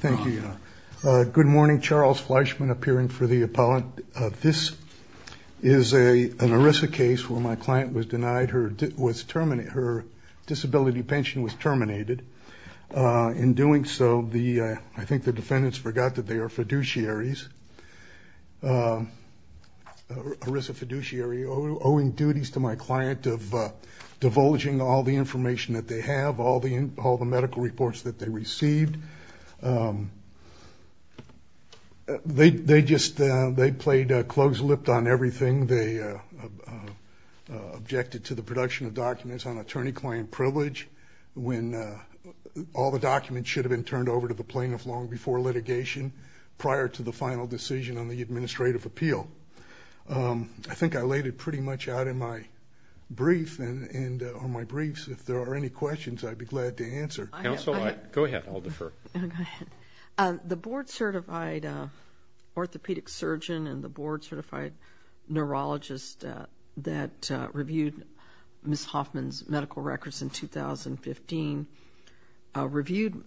Thank you. Good morning. Charles Fleischman appearing for the appellate. This is an ERISA case where my client was denied her disability pension, was terminated. In doing so, I think the defendants forgot that they are fiduciaries. ERISA fiduciary owing duties to my client of received. They just, they played close-lipped on everything. They objected to the production of documents on attorney-client privilege when all the documents should have been turned over to the plaintiff long before litigation, prior to the final decision on the administrative appeal. I think I laid it pretty much out in my brief and on my briefs. If there are any questions, I'd be glad to answer. Counsel, go ahead. I'll defer. The board-certified orthopedic surgeon and the board-certified neurologist that reviewed Ms. Hoffman's medical records in 2015, reviewed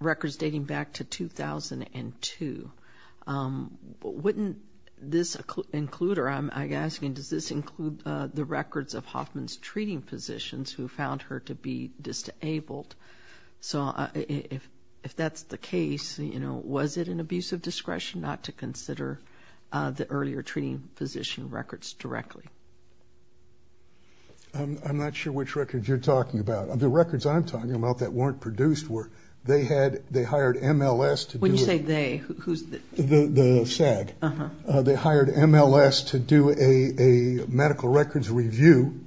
records dating back to 2002. Wouldn't this include, or I'm asking, does this include the records of Hoffman's treating physicians who found her to be disabled? So if that's the case, you know, was it an abuse of discretion not to consider the earlier treating physician records directly? I'm not sure which records you're talking about. The records I'm talking about that weren't produced were, they had, they hired MLS to do it. When the medical records review,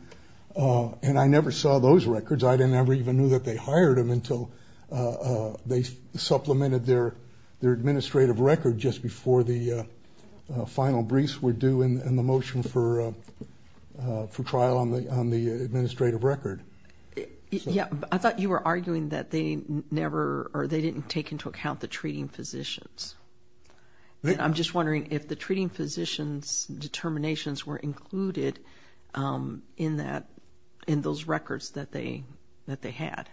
and I never saw those records, I never even knew that they hired them until they supplemented their administrative record just before the final briefs were due and the motion for trial on the administrative record. Yeah, but I thought you were arguing that they never, or they didn't take into account the treating physicians. And I'm just included in that, in those records that they, that they had.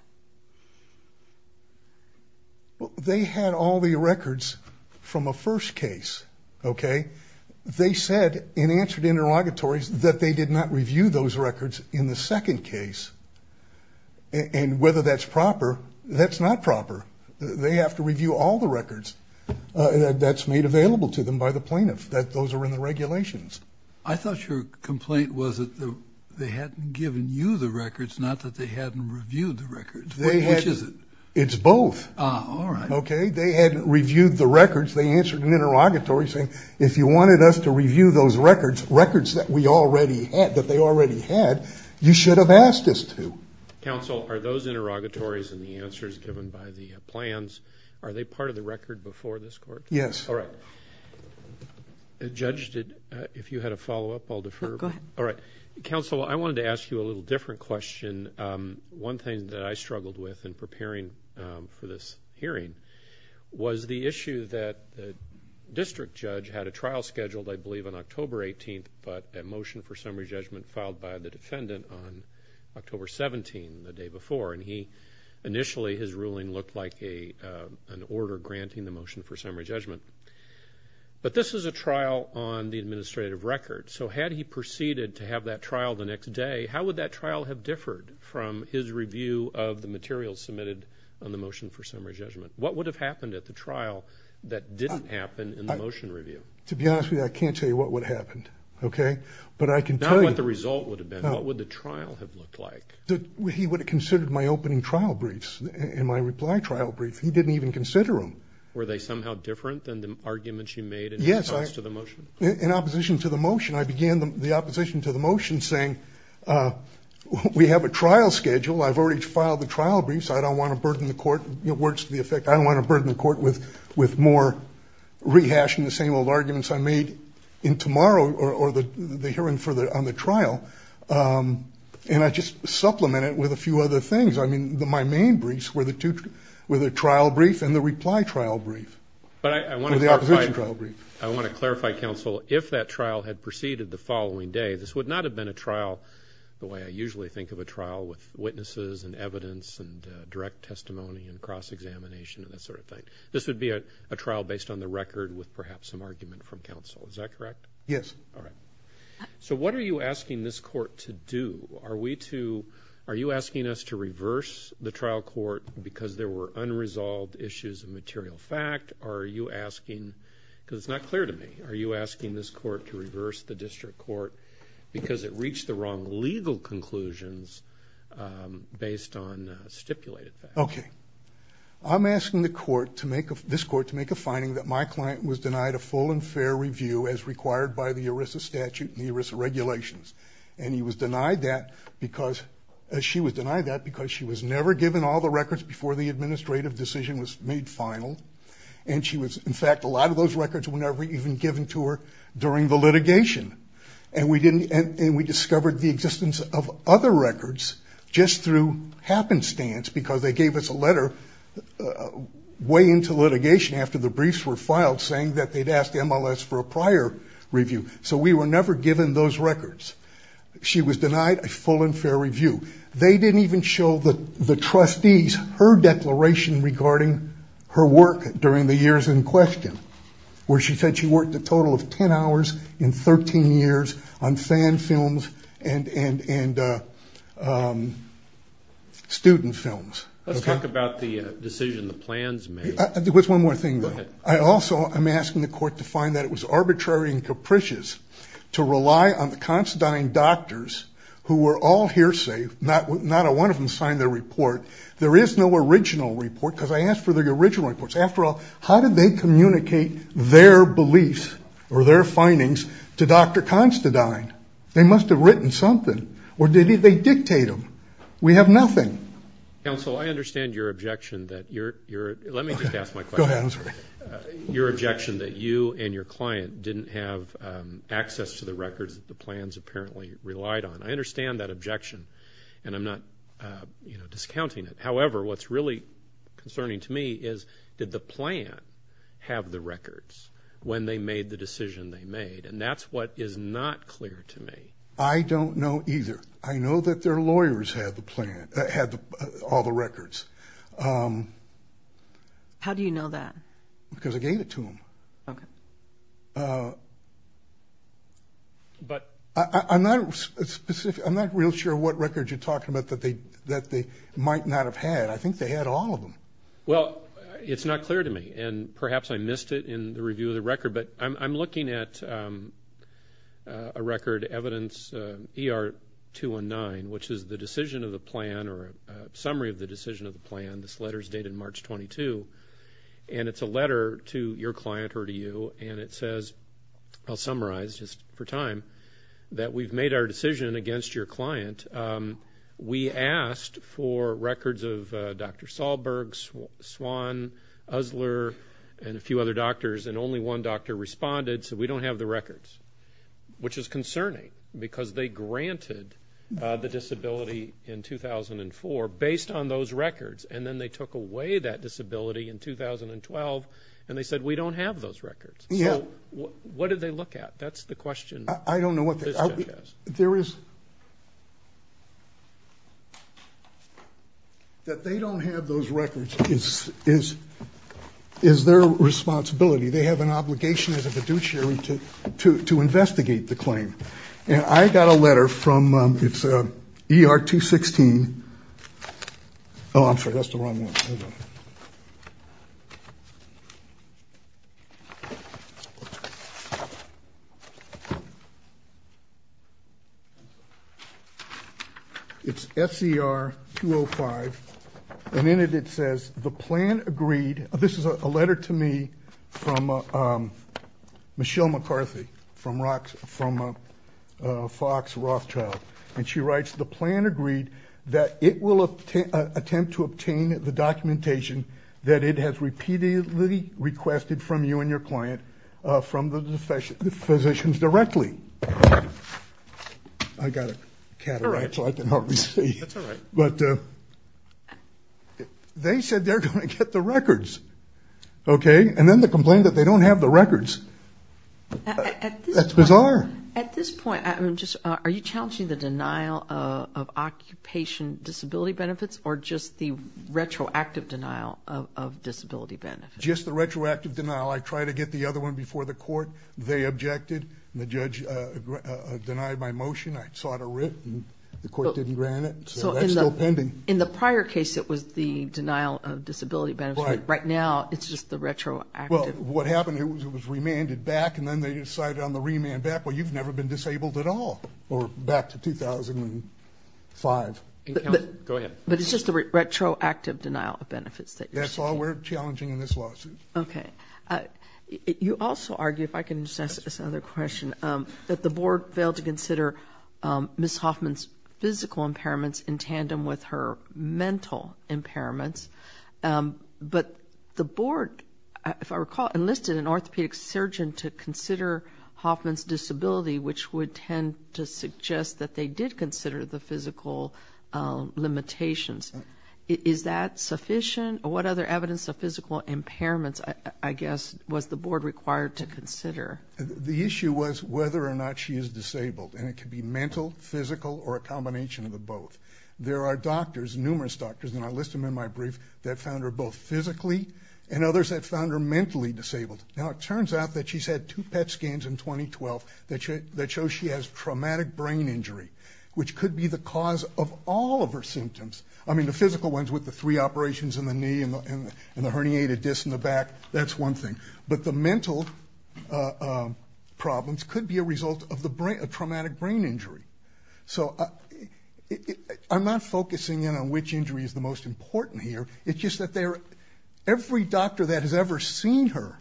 Well, they had all the records from a first case, okay? They said in answer to interrogatories that they did not review those records in the second case. And whether that's proper, that's not proper. They have to review all the records that's made available to them by the plaintiff, that those are in the regulations. I thought your complaint was that they hadn't given you the records, not that they hadn't reviewed the records. Which is it? It's both. Ah, all right. Okay? They hadn't reviewed the records. They answered an interrogatory saying if you wanted us to review those records, records that we already had, that they already had, you should have asked us to. Counsel, are those interrogatories and the answers given by the plans, are they part of the record before this court? Yes. All right. Judge, if you had a follow-up, I'll defer. No, go ahead. All right. Counsel, I wanted to ask you a little different question. One thing that I struggled with in preparing for this hearing was the issue that the district judge had a trial scheduled, I believe, on October 18th, but a motion for summary judgment filed by the defendant on October 17, the day before. And he, initially, his ruling looked like an order granting the motion for summary judgment. But this is a trial on the administrative record. So had he proceeded to have that trial the next day, how would that trial have differed from his review of the materials submitted on the motion for summary judgment? What would have happened at the trial that didn't happen in the motion review? To be honest with you, I can't tell you what would have happened. Okay? But I can tell you... Not what the result would have been. He considered my opening trial briefs and my reply trial briefs. He didn't even consider them. Were they somehow different than the arguments you made in response to the motion? Yes. In opposition to the motion, I began the opposition to the motion saying, we have a trial schedule. I've already filed the trial briefs. I don't want to burden the court... Words to the effect, I don't want to burden the court with more rehashing the same old arguments I made in tomorrow or the hearing on the trial. And I just supplemented that with a few other things. I mean, my main briefs were the trial brief and the reply trial brief. But I want to clarify... Or the opposition trial brief. I want to clarify, counsel, if that trial had proceeded the following day, this would not have been a trial the way I usually think of a trial with witnesses and evidence and direct testimony and cross-examination and that sort of thing. This would be a trial based on the record with perhaps some argument from counsel. Is that correct? Yes. All right. So what are you asking this court to do? Are we to... Are you asking us to reverse the trial court because there were unresolved issues of material fact? Or are you asking... Because it's not clear to me. Are you asking this court to reverse the district court because it reached the wrong legal conclusions based on stipulated facts? Okay. I'm asking this court to make a finding that my client was denied a full and fair review as required by the ERISA statute and the ERISA regulations. And he was denied that because... She was denied that because she was never given all the records before the administrative decision was made final. And she was... In fact, a lot of those records were never even given to her during the litigation. And we didn't... And we discovered the existence of other records just through happenstance because they gave us a letter way into litigation after the briefs were filed saying that they'd asked MLS for a prior review. So we were never given those records. She was denied a full and fair review. They didn't even show the trustees her declaration regarding her work during the years in question, where she said she worked a total of 10 hours in 13 years on fan films and student films. Let's talk about the decision, the plans made. There is no original report because I asked for the original reports. After all, how did they communicate their beliefs or their findings to Dr. Constantine? They must have written something or did they dictate them? We have nothing. Counsel, I understand your objection that you're... Let me just ask my question. Go ahead. I'm sorry. Your objection that you and your client didn't have access to the records that the plans apparently relied on. I understand that objection and I'm not discounting it. However, what's really concerning to me is did the plan have the records when they made the decision they made? And that's what is not clear to me. I don't know either. I know that their lawyers had the plan, had all the records. How do you know that? Because I gave it to them. I'm not real sure what records you're talking about that they might not have had. I think they had all of them. Well, it's not clear to me and perhaps I missed it in the review of the record, but I'm looking at a record evidence ER 219, which is the decision of the plan or a plan that was made summary of the decision of the plan. This letter is dated March 22 and it's a letter to your client or to you and it says, I'll summarize just for time, that we've made our decision against your client. We asked for records of Dr. Solberg, Swan, Usler and a few other doctors and only one doctor responded, so we don't have the records, which is concerning because they granted the disability in 2004 based on those records and then they took away that disability in 2012 and they said, we don't have those records. So what did they look at? That's the question this judge has. I don't know. There is, that they don't have those records is their responsibility. They have an obligation as a fiduciary to investigate the claim and I got a letter from, it's ER 216. Oh, I'm sorry, that's the wrong one. It's SER 205 and in it, it says the plan agreed, this is a letter to me from Michelle McCarthy from Fox Rothschild and she writes, the plan agreed that it will attempt to obtain the documentation that it has repeatedly requested from you and your client from the physicians directly. I got a cataract so I can hardly see, but they said they're going to get the document. At this point, are you challenging the denial of occupation disability benefits or just the retroactive denial of disability benefits? Just the retroactive denial. I tried to get the other one before the court, they objected, the judge denied my motion, I sought a writ and the court didn't grant it, so that's still pending. In the prior case it was the denial of disability benefits, but right now it's just the retroactive. Well, what happened is it was remanded back and then they decided on the remand back, well you've never been disabled at all, or back to 2005. But it's just the retroactive denial of benefits. That's all we're challenging in this lawsuit. Okay. You also argue, if I can just ask this other question, that the board failed to consider Ms. Hoffman's physical impairments in tandem with her mental impairments, but the board, if I recall, enlisted an orthopedic surgeon to consider Hoffman's disability, which would tend to suggest that they did consider the physical limitations. Is that sufficient, or what other evidence of physical impairments, I guess, was the board required to consider? The issue was whether or not she is disabled, and it could be mental, physical, or a combination of the both. There are doctors, numerous doctors, and I list them in my brief, that found her both physically and others that found her mentally disabled. Now it turns out that she's had two PET scans in 2012 that show she has traumatic brain injury, which could be the cause of all of her symptoms. I mean the physical ones with the three operations in the knee and the herniated disc in the back, that's one thing, but the mental problems could be a result of a traumatic brain injury. So I'm not focusing in on which injury is the most important here, it's just that every doctor that has ever seen her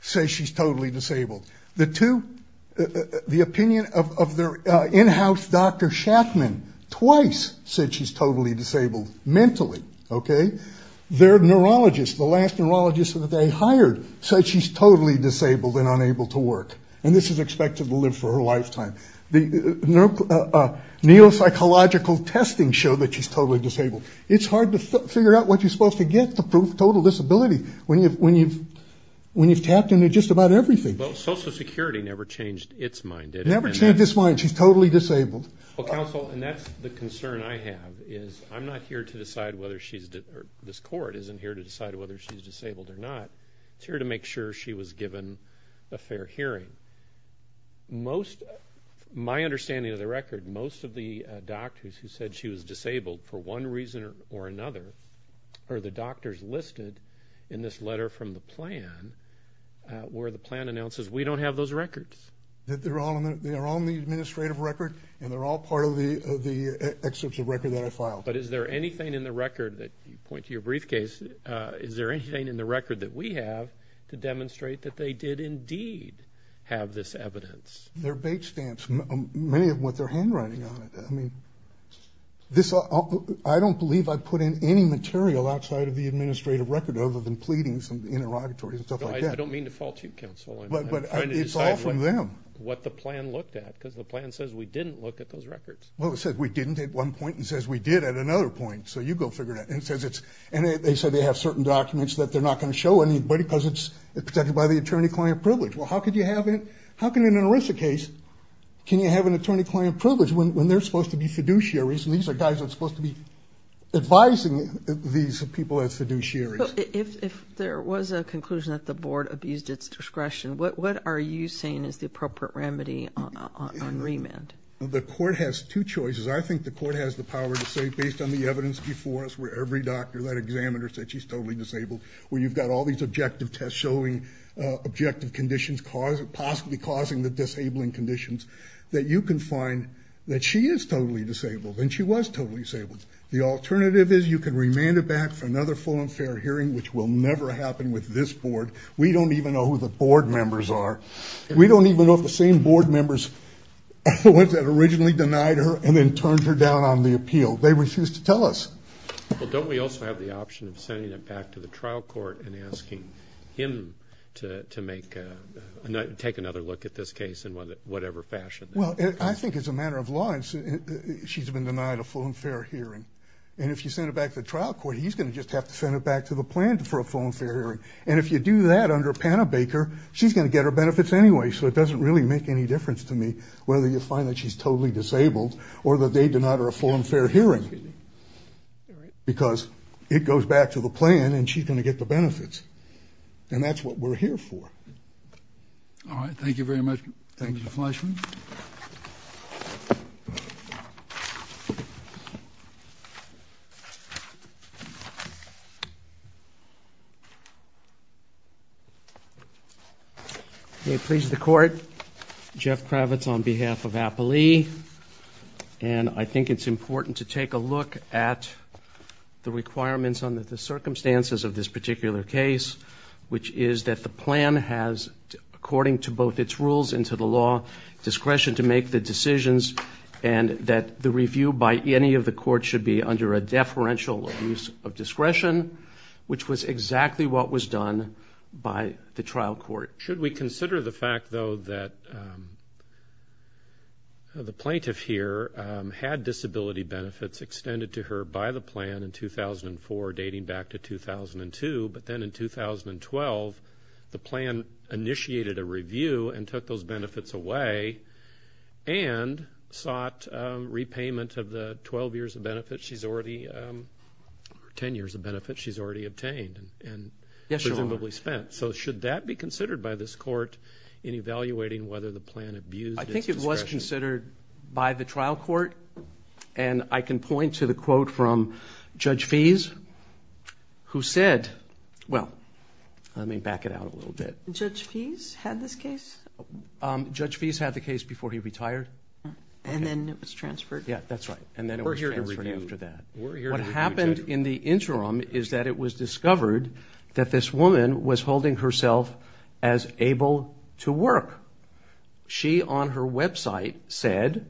says she's totally disabled. The opinion of their in-house doctor Shackman twice said she's totally disabled mentally. Their neurologist, the last neurologist that they hired, said she's totally disabled and unable to work, and this is expected to live for her lifetime. The neuropsychological testing showed that she's totally disabled. It's hard to figure out what you're supposed to get to prove total disability when you've tapped into just about everything. But Social Security never changed its mind, did it? Never changed its mind. She's totally disabled. Well, counsel, and that's the concern I have, is I'm not here to decide whether she's, this or not, it's here to make sure she was given a fair hearing. Most, my understanding of the record, most of the doctors who said she was disabled, for one reason or another, are the doctors listed in this letter from the plan, where the plan announces, we don't have those records. They're all in the administrative record, and they're all part of the excerpts of record that I filed. But is there anything in the record that, you point to your briefcase, is there anything in the record that we have to demonstrate that they did indeed have this evidence? They're bait stamps. Many of them with their handwriting on it. I mean, this, I don't believe I put in any material outside of the administrative record, other than pleadings and interrogatories and stuff like that. I don't mean to fault you, counsel. But it's all from them. What the plan looked at, because the plan says we didn't look at those records. Well, it says we didn't at one point, and it says we did at another point, so you go figure it out, and it says it's, and they said they have certain documents that they're not going to show anybody, because it's protected by the attorney-client privilege. Well, how could you have it, how can in an ERISA case, can you have an attorney-client privilege when they're supposed to be fiduciaries, and these are guys that are supposed to be advising these people as fiduciaries? If there was a conclusion that the board abused its discretion, what are you saying is the appropriate remedy on remand? The court has two choices. I think the court has the power to say, based on the evidence before us, where every doctor, that examiner said she's totally disabled, where you've got all these objective tests showing objective conditions, possibly causing the disabling conditions, that you can find that she is totally disabled, and she was totally disabled. The alternative is you can remand her back for another full and fair hearing, which will never happen with this board. We don't even know who the board members are. We don't even know if the same board members, the ones that originally denied her and then Well, don't we also have the option of sending it back to the trial court and asking him to take another look at this case in whatever fashion? I think as a matter of law, she's been denied a full and fair hearing, and if you send it back to the trial court, he's going to just have to send it back to the plan for a full and fair hearing. And if you do that under Panabaker, she's going to get her benefits anyway, so it doesn't really make any difference to me whether you find that she's totally disabled or that they Because it goes back to the plan, and she's going to get the benefits, and that's what we're here for. All right. Thank you very much. Thank you, Mr. Fleischman. May it please the Court, Jeff Kravitz on behalf of Appalee, and I think it's important to take a look at the requirements under the circumstances of this particular case, which is that the plan has, according to both its rules and to the law, discretion to make the decisions and that the review by any of the courts should be under a deferential use of discretion, which was exactly what was done by the trial court. Should we consider the fact, though, that the plaintiff here had disability benefits extended to her by the plan in 2004, dating back to 2002, but then in 2012, the plan initiated a review and took those benefits away and sought repayment of the 12 years of benefits she's already, or 10 years of benefits she's already obtained and presumably spent? Should that be considered by this court in evaluating whether the plan abused its discretion? I think it was considered by the trial court, and I can point to the quote from Judge Fees, who said... Well, let me back it out a little bit. Judge Fees had this case? Judge Fees had the case before he retired. And then it was transferred? Yeah, that's right. And then it was transferred after that. We're here to review. We're here to review, Jeff. And what happened in the interim is that it was discovered that this woman was holding herself as able to work. She on her website said,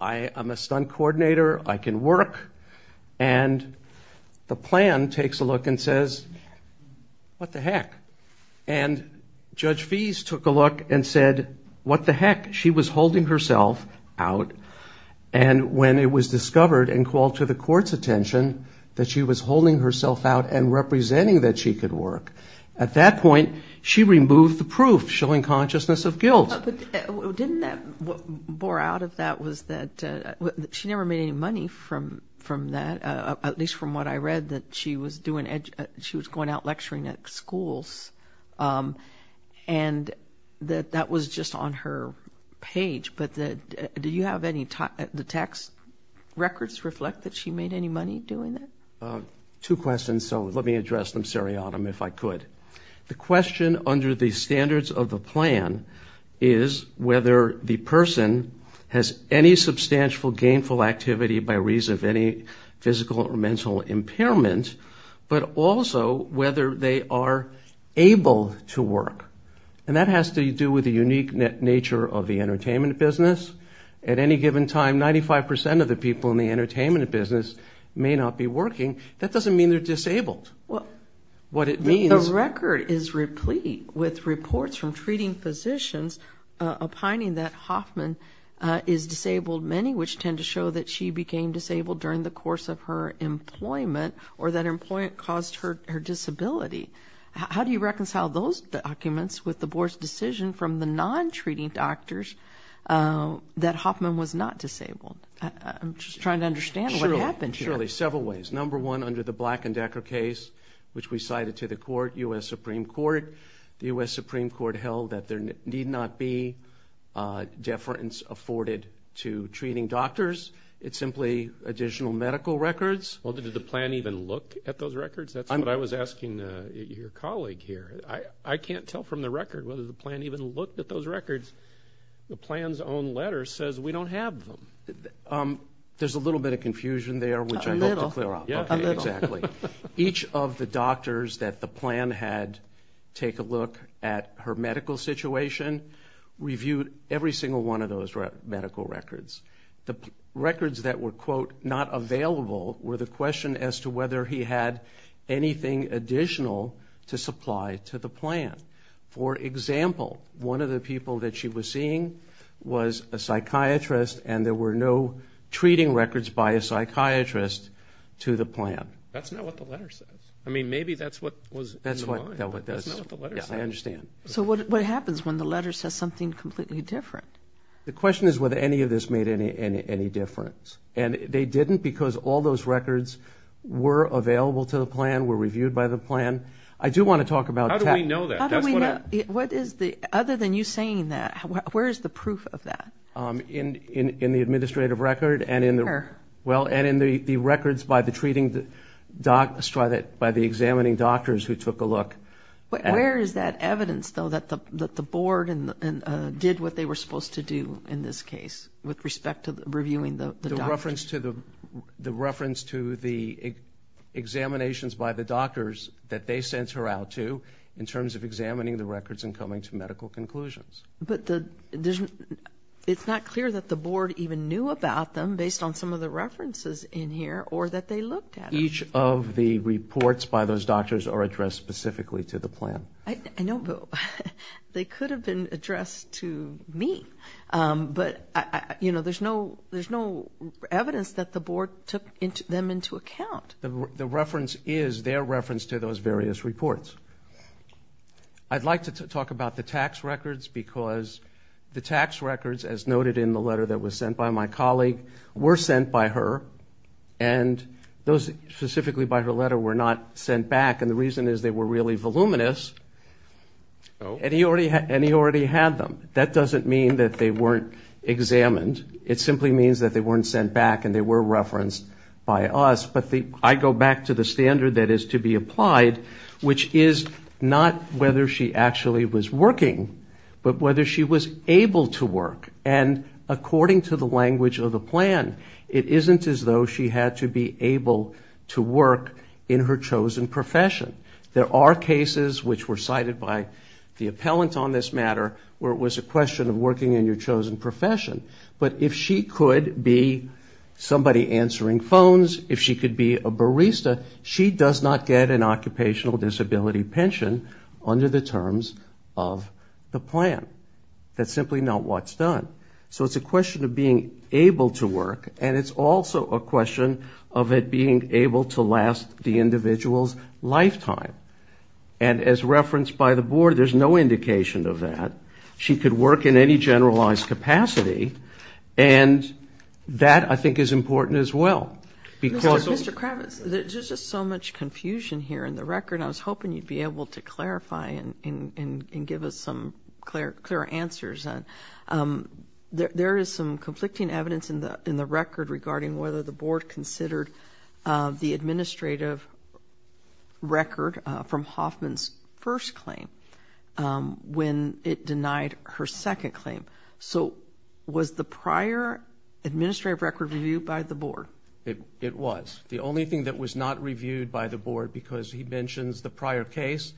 I am a stunt coordinator. I can work. And the plan takes a look and says, what the heck? And Judge Fees took a look and said, what the heck? She was holding herself out. And when it was discovered and called to the court's attention that she was holding herself out and representing that she could work, at that point, she removed the proof, showing consciousness of guilt. But didn't that... What bore out of that was that she never made any money from that, at least from what I read, that she was doing... She was going out lecturing at schools, and that that was just on her page. But did you have any... The tax records reflect that she made any money doing that? Two questions, so let me address them seriatim if I could. The question under the standards of the plan is whether the person has any substantial gainful activity by reason of any physical or mental impairment, but also whether they are able to work. And that has to do with the unique nature of the entertainment business. At any given time, 95% of the people in the entertainment business may not be working. That doesn't mean they're disabled. What it means... The record is replete with reports from treating physicians opining that Hoffman is disabled, many which tend to show that she became disabled during the course of her employment, or that employment caused her disability. How do you reconcile those documents with the board's decision from the non-treating doctors that Hoffman was not disabled? I'm just trying to understand what happened here. Surely several ways. Number one, under the Black and Decker case, which we cited to the court, U.S. Supreme Court, the U.S. Supreme Court held that there need not be deference afforded to treating doctors. It's simply additional medical records. Well, did the plan even look at those records? That's what I was asking your colleague here. I can't tell from the record whether the plan even looked at those records. The plan's own letter says we don't have them. There's a little bit of confusion there, which I hope to clear up. A little. A little. Exactly. Each of the doctors that the plan had take a look at her medical situation reviewed every single one of those medical records. The records that were, quote, not available were the question as to whether he had anything additional to supply to the plan. For example, one of the people that she was seeing was a psychiatrist and there were no treating records by a psychiatrist to the plan. That's not what the letter says. I mean, maybe that's what was in the line, but that's not what the letter says. Yeah, I understand. So what happens when the letter says something completely different? The question is whether any of this made any difference. And they didn't because all those records were available to the plan, were reviewed by the plan. I do want to talk about— How do we know that? That's what I— How do we know? What is the—other than you saying that, where is the proof of that? In the administrative record and in the— Where? Well, and in the records by the treating—by the examining doctors who took a look. Where is that evidence, though, that the board did what they were supposed to do in this case with respect to reviewing the doctor? The reference to the examinations by the doctors that they sent her out to in terms of examining the records and coming to medical conclusions. But it's not clear that the board even knew about them based on some of the references in here or that they looked at them. Each of the reports by those doctors are addressed specifically to the plan. I know, but they could have been addressed to me, but, you know, there's no evidence that the board took them into account. The reference is their reference to those various reports. I'd like to talk about the tax records because the tax records, as noted in the letter that specifically by her letter, were not sent back, and the reason is they were really voluminous, and he already had them. That doesn't mean that they weren't examined. It simply means that they weren't sent back and they were referenced by us. But I go back to the standard that is to be applied, which is not whether she actually was working, but whether she was able to work. And according to the language of the plan, it isn't as though she had to be able to work in her chosen profession. There are cases, which were cited by the appellant on this matter, where it was a question of working in your chosen profession. But if she could be somebody answering phones, if she could be a barista, she does not get an occupational disability pension under the terms of the plan. That's simply not what's done. So it's a question of being able to work, and it's also a question of it being able to last the individual's lifetime. And as referenced by the board, there's no indication of that. She could work in any generalized capacity, and that, I think, is important as well because Mr. Kravitz, there's just so much confusion here in the record. And I was hoping you'd be able to clarify and give us some clear answers. There is some conflicting evidence in the record regarding whether the board considered the administrative record from Hoffman's first claim when it denied her second claim. So was the prior administrative record reviewed by the board? It was. The only thing that was not reviewed by the board, because he mentions the prior case,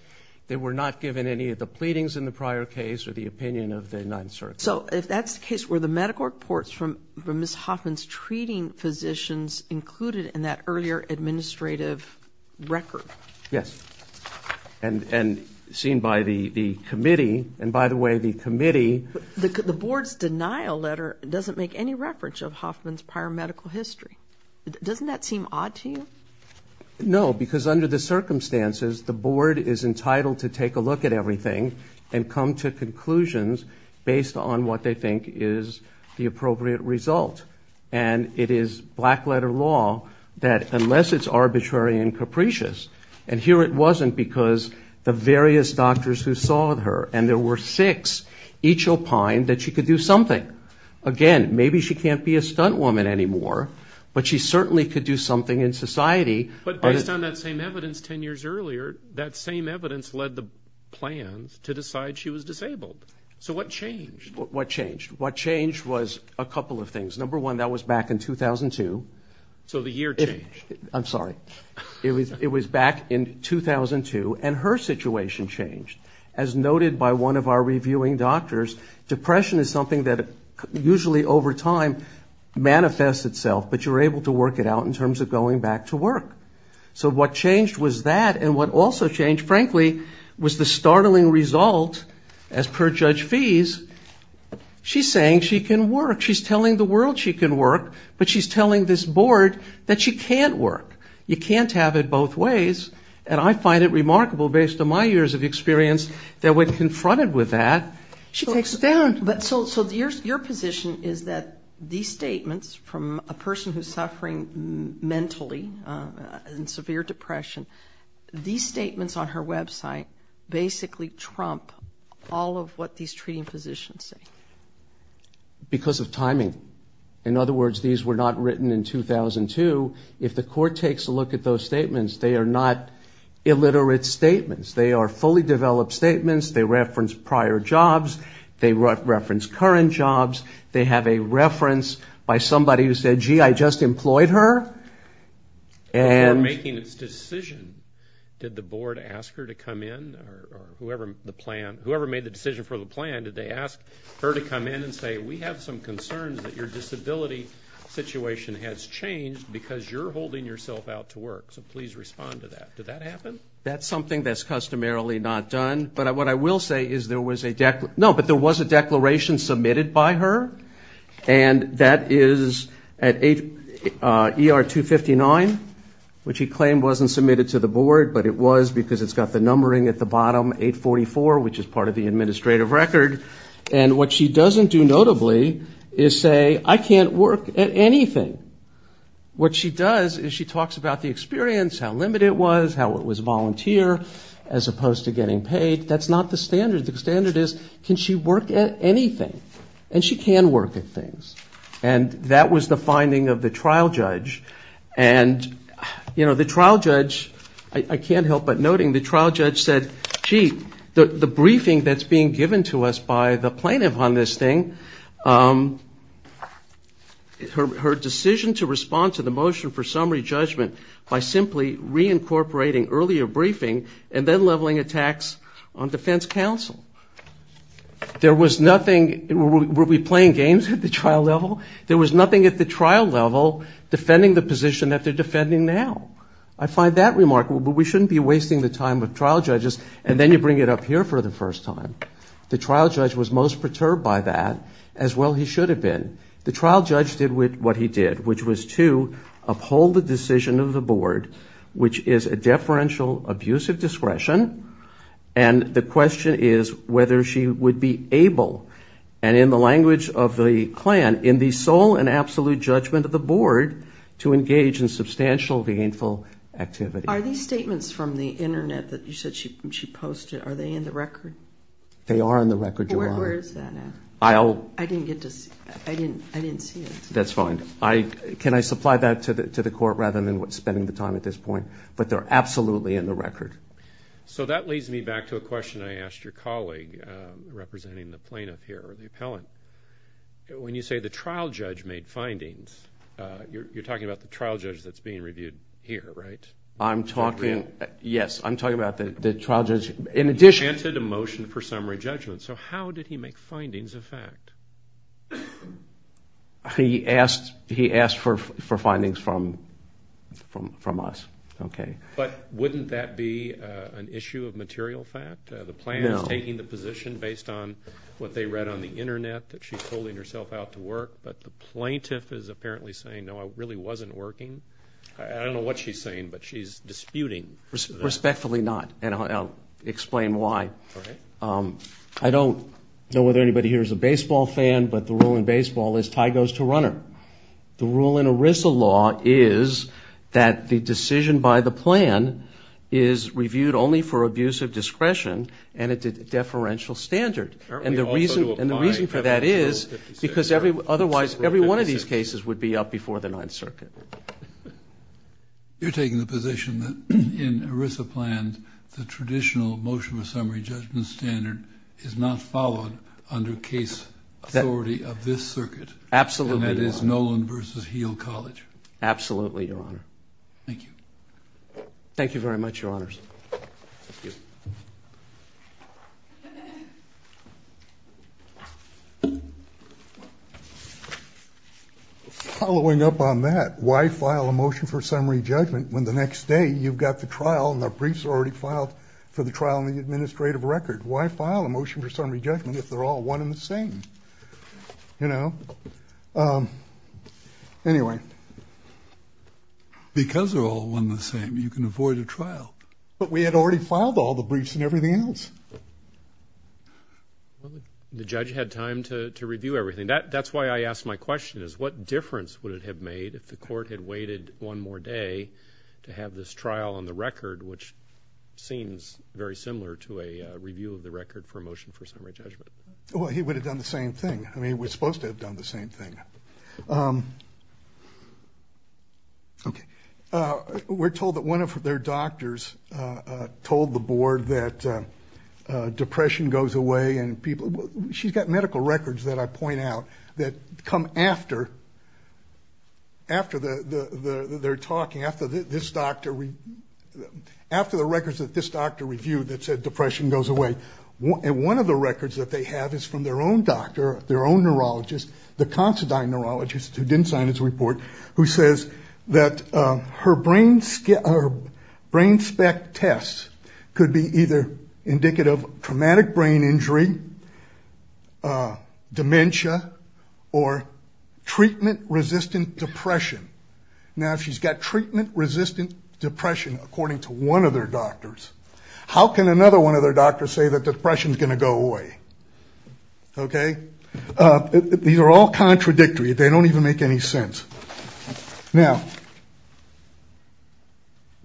they were not given any of the pleadings in the prior case or the opinion of the Ninth Circuit. So if that's the case, were the medical reports from Ms. Hoffman's treating physicians included in that earlier administrative record? Yes. And seen by the committee. And by the way, the committee... The board's denial letter doesn't make any reference of Hoffman's prior medical history. Doesn't that seem odd to you? No, because under the circumstances, the board is entitled to take a look at everything and come to conclusions based on what they think is the appropriate result. And it is black-letter law that unless it's arbitrary and capricious, and here it wasn't because the various doctors who saw her, and there were six, each opined that she could do something. Again, maybe she can't be a stunt woman anymore, but she certainly could do something in society. But based on that same evidence 10 years earlier, that same evidence led the plans to decide she was disabled. So what changed? What changed? What changed was a couple of things. Number one, that was back in 2002. So the year changed. I'm sorry. It was back in 2002, and her situation changed. As noted by one of our reviewing doctors, depression is something that usually over time manifests itself, but you're able to work it out in terms of going back to work. So what changed was that, and what also changed, frankly, was the startling result, as per Judge Fees, she's saying she can work. She's telling the world she can work, but she's telling this board that she can't work. You can't have it both ways, and I find it remarkable, based on my years of experience, that when confronted with that, she takes it down. So your position is that these statements from a person who's suffering mentally in severe depression, these statements on her website basically trump all of what these treating physicians say. Because of timing. In other words, these were not written in 2002. If the court takes a look at those statements, they are not illiterate statements. They are fully developed statements. They reference prior jobs. They reference current jobs. They have a reference by somebody who said, gee, I just employed her. Before making this decision, did the board ask her to come in, or whoever made the decision for the plan, did they ask her to come in and say, we have some concerns that your disability situation has changed because you're holding yourself out to work, so please respond to that. Did that happen? That's something that's customarily not done, but what I will say is there was a declaration submitted by her, and that is at ER 259, which he claimed wasn't submitted to the board, but it was because it's got the numbering at the bottom, 844, which is part of the administrative record. And what she doesn't do notably is say, I can't work at anything. What she does is she talks about the experience, how limited it was, how it was volunteer, as opposed to getting paid. That's not the standard. The standard is, can she work at anything? And she can work at things. And that was the finding of the trial judge. And the trial judge, I can't help but noting, the trial judge said, gee, the briefing that's being given to us by the plaintiff on this thing, her decision to respond to the motion for summary judgment by simply reincorporating earlier briefing and then leveling attacks on defense counsel. There was nothing, were we playing games at the trial level? There was nothing at the trial level defending the position that they're defending now. I find that remarkable, but we shouldn't be wasting the time with trial judges, and then you bring it up here for the first time. The trial judge was most perturbed by that, as well he should have been. The trial judge did what he did, which was to uphold the decision of the board, which is a deferential abusive discretion, and the question is whether she would be able, and in the language of the Klan, in the sole and absolute judgment of the board, to engage in substantial, gainful activity. Are these statements from the internet that you said she posted, are they in the record? They are in the record, Your Honor. Where is that now? I'll- I didn't get to see it. I didn't see it. That's fine. Can I supply that to the court rather than spending the time at this point? But they're absolutely in the record. So that leads me back to a question I asked your colleague, representing the plaintiff here, the appellant. When you say the trial judge made findings, you're talking about the trial judge that's being reviewed here, right? I'm talking, yes, I'm talking about the trial judge. In addition- He granted a motion for summary judgment, so how did he make findings of fact? He asked for findings from us, okay. But wouldn't that be an issue of material fact? No. The plaintiff is taking the position based on what they read on the internet that she's holding herself out to work, but the plaintiff is apparently saying, no, I really wasn't working. I don't know what she's saying, but she's disputing that. Respectfully not, and I'll explain why. I don't know whether anybody here is a baseball fan, but the rule in baseball is tie goes to runner. The rule in ERISA law is that the decision by the plan is reviewed only for abuse of the deferential standard, and the reason for that is because otherwise every one of these cases would be up before the Ninth Circuit. You're taking the position that in ERISA plans, the traditional motion of summary judgment standard is not followed under case authority of this circuit, and that is Nolan versus Heal College. Absolutely, Your Honor. Thank you. Thank you very much, Your Honors. Following up on that, why file a motion for summary judgment when the next day you've got the trial and the briefs are already filed for the trial in the administrative record? Why file a motion for summary judgment if they're all one and the same, you know? Anyway. Because they're all one and the same, you can avoid a trial. But we had already filed all the briefs and everything else. The judge had time to review everything. That's why I asked my question, is what difference would it have made if the court had waited one more day to have this trial on the record, which seems very similar to a review of the record for a motion for summary judgment? Well, he would have done the same thing. I mean, he was supposed to have done the same thing. Okay. We're told that one of their doctors told the board that depression goes away and people – she's got medical records that I point out that come after the – they're talking after this doctor – after the records that this doctor reviewed that said depression goes away. And one of the records that they have is from their own doctor, their own neurologist. The constant-eye neurologist who didn't sign this report, who says that her brain spec tests could be either indicative of traumatic brain injury, dementia, or treatment-resistant depression. Now, if she's got treatment-resistant depression, according to one of their doctors, how can another one of their doctors say that depression's going to go away? Okay? These are all contradictory. They don't even make any sense. Now,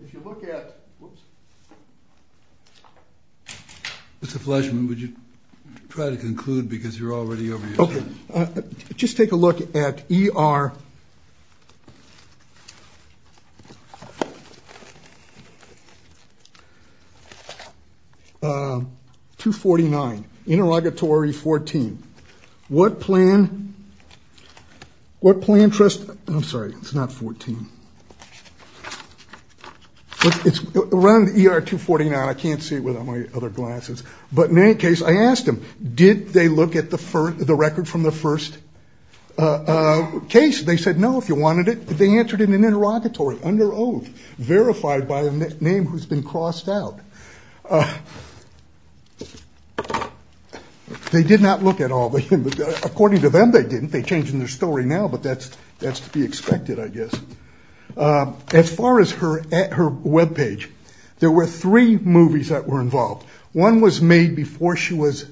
if you look at – whoops. Mr. Fleshman, would you try to conclude because you're already over your time? Okay. Just take a look at ER 249, interrogatory 14. What plan – what plan trust – I'm sorry. It's not 14. It's run ER 249. I can't see it without my other glasses. But in any case, I asked them, did they look at the record from the first case? They said no, if you wanted it. But they answered in an interrogatory, under oath, verified by a name who's been crossed out. They did not look at all. According to them, they didn't. They're changing their story now, but that's to be expected, I guess. As far as her webpage, there were three movies that were involved. One was made before she was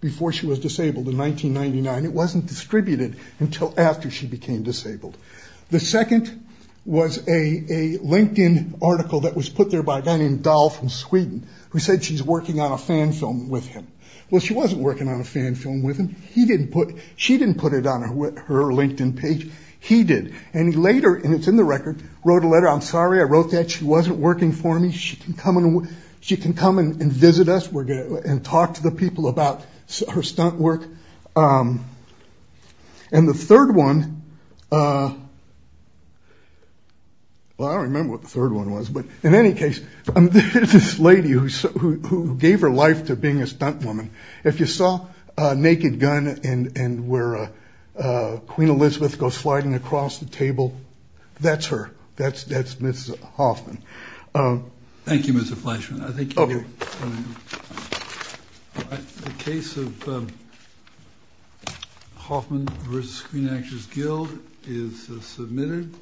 disabled in 1999. It wasn't distributed until after she became disabled. The second was a LinkedIn article that was put there by a guy named Dahl from Sweden who said she's working on a fan film with him. Well, she wasn't working on a fan film with him. He didn't put – she didn't put it on her LinkedIn page. He did. And he later – and it's in the record – wrote a letter. I'm sorry I wrote that. She wasn't working for me. She can come and visit us and talk to the people about her stunt work. And the third one – well, I don't remember what the third one was, but in any case, there's this lady who gave her life to being a stuntwoman. If you saw Naked Gun and where Queen Elizabeth goes sliding across the table, that's her. That's Mrs. Hoffman. Thank you, Mr. Fleischman. Okay. The case of Hoffman v. Queen Actress Guild is submitted.